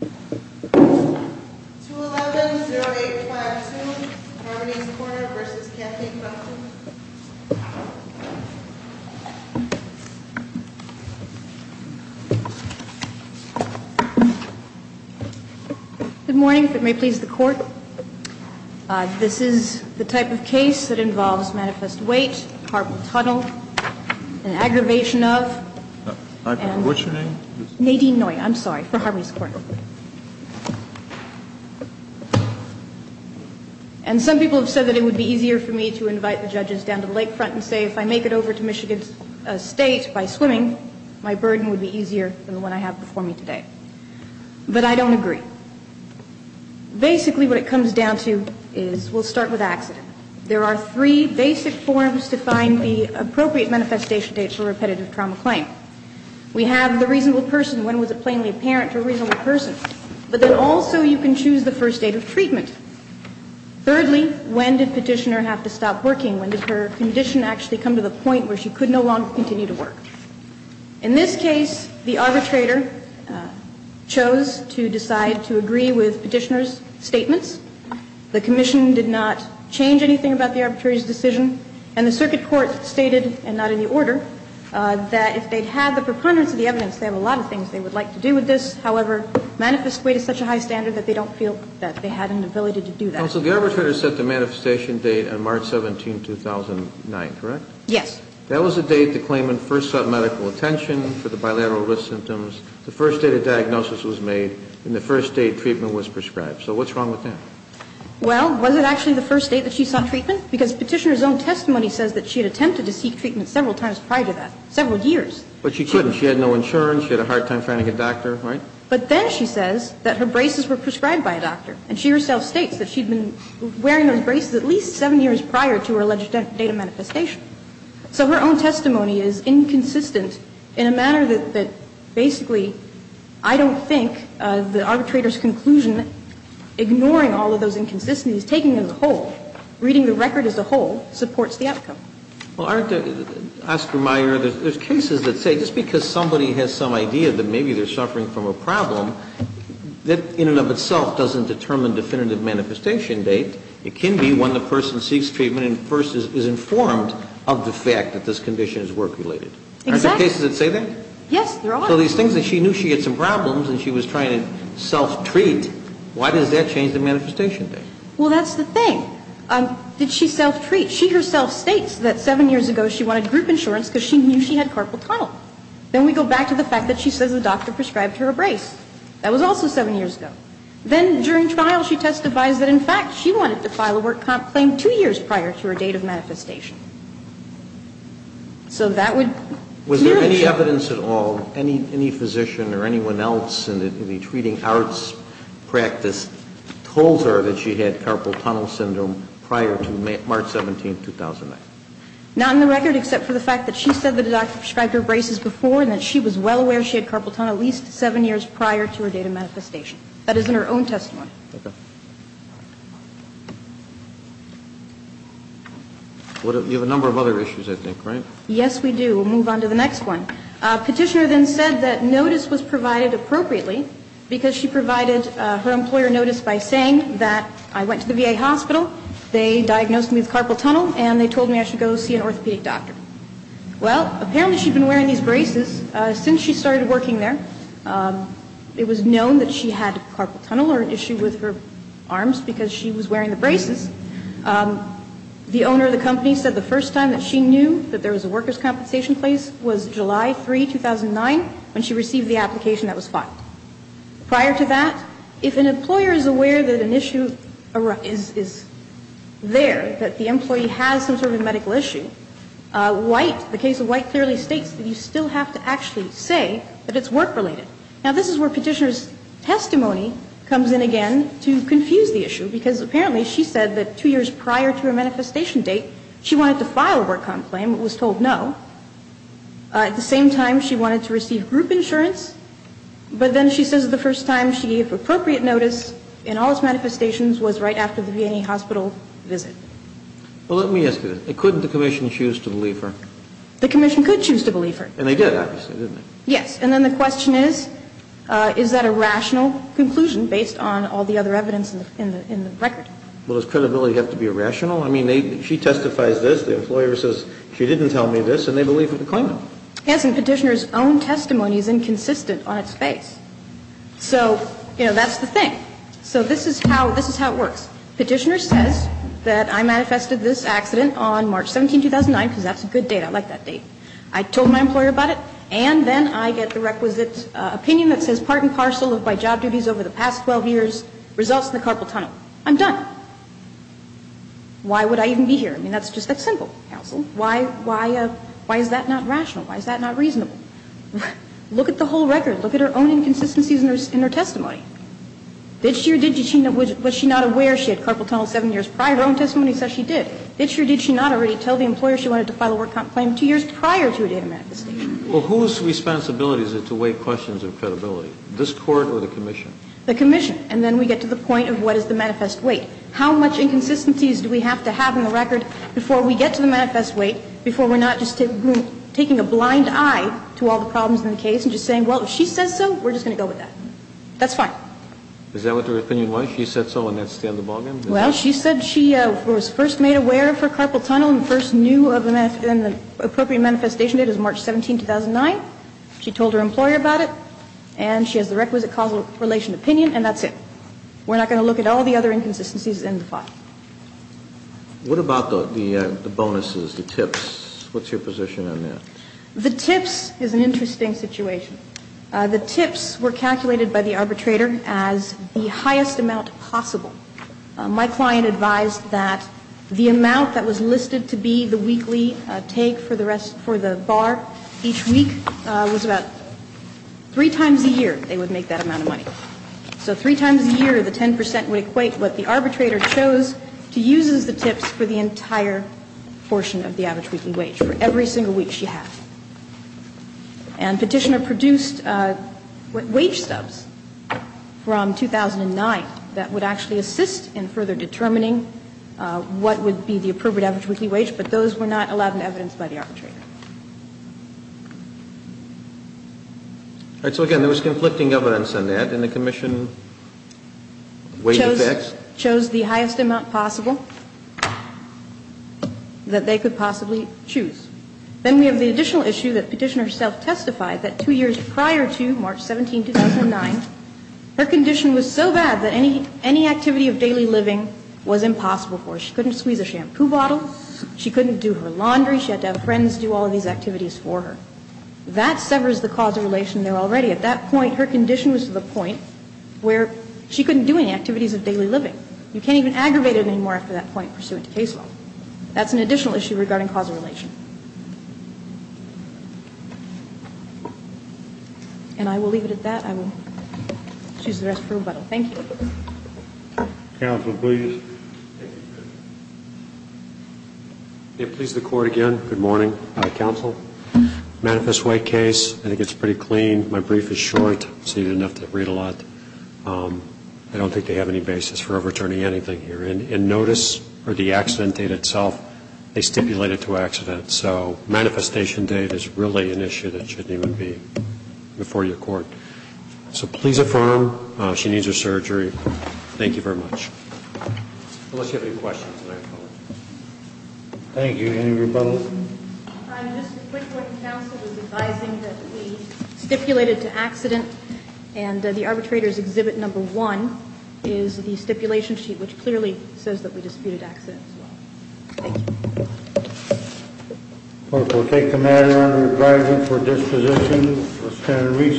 2-11-0852 Harmony's Corner v. Kathie Crumpton Good morning, if it may please the court. This is the type of case that involves manifest weight, horrible tunnel, an aggravation of... What's your name? Nadine Noy, I'm sorry, for Harmony's Corner. And some people have said that it would be easier for me to invite the judges down to the lake front and say, if I make it over to Michigan State by swimming, my burden would be easier than the one I have before me today. But I don't agree. Basically what it comes down to is, we'll start with accident. There are three basic forms to find the appropriate manifestation date for a repetitive trauma claim. We have the reasonable person. When was it plainly apparent to a reasonable person? But then also you can choose the first date of treatment. Thirdly, when did Petitioner have to stop working? When did her condition actually come to the point where she could no longer continue to work? In this case, the arbitrator chose to decide to agree with Petitioner's statements. The commission did not change anything about the arbitrator's decision. And the circuit court stated, and not in the order, that if they'd had the preponderance of the evidence, they have a lot of things they would like to do with this. However, manifest weight is such a high standard that they don't feel that they had an ability to do that. Counsel, the arbitrator set the manifestation date on March 17, 2009, correct? Yes. That was the date the claimant first sought medical attention for the bilateral risk symptoms, the first date a diagnosis was made, and the first date treatment was prescribed. So what's wrong with that? Well, was it actually the first date that she sought treatment? Because Petitioner's own testimony says that she had attempted to seek treatment several times prior to that, several years. But she couldn't. She had no insurance. She had a hard time finding a doctor, right? But then she says that her braces were prescribed by a doctor. And she herself states that she had been wearing those braces at least seven years prior to her alleged date of manifestation. So her own testimony is inconsistent in a manner that basically I don't think the arbitrator's taking it as a whole. Reading the record as a whole supports the outcome. Well, aren't Oscar Meyer, there's cases that say just because somebody has some idea that maybe they're suffering from a problem, that in and of itself doesn't determine definitive manifestation date. It can be when the person seeks treatment and first is informed of the fact that this condition is work-related. Exactly. Aren't there cases that say that? Yes, there are. So these things that she knew she had some problems and she was trying to self-treat, why does that change the manifestation date? Well, that's the thing. Did she self-treat? She herself states that seven years ago she wanted group insurance because she knew she had carpal tunnel. Then we go back to the fact that she says the doctor prescribed her a brace. That was also seven years ago. Then during trial she testifies that, in fact, she wanted to file a work comp claim two years prior to her date of manifestation. So that would clearly show. Any evidence at all, any physician or anyone else in the treating arts practice told her that she had carpal tunnel syndrome prior to March 17, 2009? Not on the record except for the fact that she said that the doctor prescribed her braces before and that she was well aware she had carpal tunnel at least seven years prior to her date of manifestation. That is in her own testimony. Okay. You have a number of other issues, I think, right? Yes, we do. We'll move on to the next one. Petitioner then said that notice was provided appropriately because she provided her employer notice by saying that I went to the VA hospital, they diagnosed me with carpal tunnel, and they told me I should go see an orthopedic doctor. Well, apparently she'd been wearing these braces since she started working there. It was known that she had carpal tunnel or an issue with her arms because she was wearing the braces. The owner of the company said the first time that she knew that there was a workers compensation place was July 3, 2009 when she received the application that was filed. Prior to that, if an employer is aware that an issue is there, that the employee has some sort of medical issue, White, the case of White clearly states that you still have to actually say that it's work-related. Now, this is where Petitioner's testimony comes in again to confuse the issue because apparently she said that two years prior to her manifestation date she wanted to file a work comp claim but was told no. At the same time, she wanted to receive group insurance, but then she says the first time she gave appropriate notice in all its manifestations was right after the VA hospital visit. Well, let me ask you this. Couldn't the Commission choose to believe her? The Commission could choose to believe her. And they did, obviously, didn't they? Yes. And then the question is, is that a rational conclusion based on all the other evidence in the record? Well, does credibility have to be irrational? I mean, she testifies this, the employer says she didn't tell me this, and they believe we can claim it. Yes, and Petitioner's own testimony is inconsistent on its face. So, you know, that's the thing. So this is how it works. Petitioner says that I manifested this accident on March 17, 2009, because that's a good date. I like that date. I told my employer about it, and then I get the requisite opinion that says part and parcel of my job duties over the past 12 years results in the carpal tunnel. I'm done. Why would I even be here? I mean, that's just that simple, counsel. Why is that not rational? Why is that not reasonable? Look at the whole record. Look at her own inconsistencies in her testimony. Did she or did she not? Was she not aware she had carpal tunnel seven years prior? Her own testimony says she did. Did she or did she not already tell the employer she wanted to file a work comp claim two years prior to a date of manifestation? Well, whose responsibility is it to weigh questions of credibility, this Court or the Commission? The Commission. And then we get to the point of what is the manifest weight. How much inconsistencies do we have to have in the record before we get to the manifest weight, before we're not just taking a blind eye to all the problems in the case and just saying, well, if she says so, we're just going to go with that? That's fine. Is that what her opinion was? She said so, and that's the end of the bargain? Well, she said she was first made aware of her carpal tunnel and first knew of the appropriate manifestation date is March 17, 2009. She told her employer about it, and she has the requisite causal relation opinion, and that's it. We're not going to look at all the other inconsistencies in the file. What about the bonuses, the tips? What's your position on that? The tips is an interesting situation. The tips were calculated by the arbitrator as the highest amount possible. My client advised that the amount that was listed to be the weekly take for the rest for the bar each week was about three times a year they would make that amount of tips. So three times a year, the 10 percent would equate what the arbitrator chose to use as the tips for the entire portion of the average weekly wage for every single week she had. And Petitioner produced wage stubs from 2009 that would actually assist in further determining what would be the appropriate average weekly wage, but those were not allowed in evidence by the arbitrator. So, again, there was conflicting evidence on that, and the Commission chose the highest amount possible that they could possibly choose. Then we have the additional issue that Petitioner herself testified that two years prior to March 17, 2009, her condition was so bad that any activity of daily living was impossible for her. She couldn't squeeze a shampoo bottle. She couldn't do her laundry. She had to have friends do all of these activities for her. That severs the causal relation there already. At that point, her condition was to the point where she couldn't do any activities of daily living. You can't even aggravate it anymore after that point pursuant to case law. That's an additional issue regarding causal relation. And I will leave it at that. I will choose the rest for rebuttal. Thank you. Counsel, please. Thank you. May it please the Court again. Good morning, Counsel. Manifest wake case, I think it's pretty clean. My brief is short, so you didn't have to read a lot. I don't think they have any basis for overturning anything here. In notice or the accident date itself, they stipulate it to accident. So manifestation date is really an issue that shouldn't even be before your Court. So please affirm she needs her surgery. Thank you very much. Unless you have any questions, I apologize. Thank you. Any rebuttals? Just a quick one. Counsel is advising that we stipulated to accident, and the arbitrator's exhibit number one is the stipulation sheet, which clearly says that we disputed accident as well. Thank you. The Court will take the matter under review for disposition.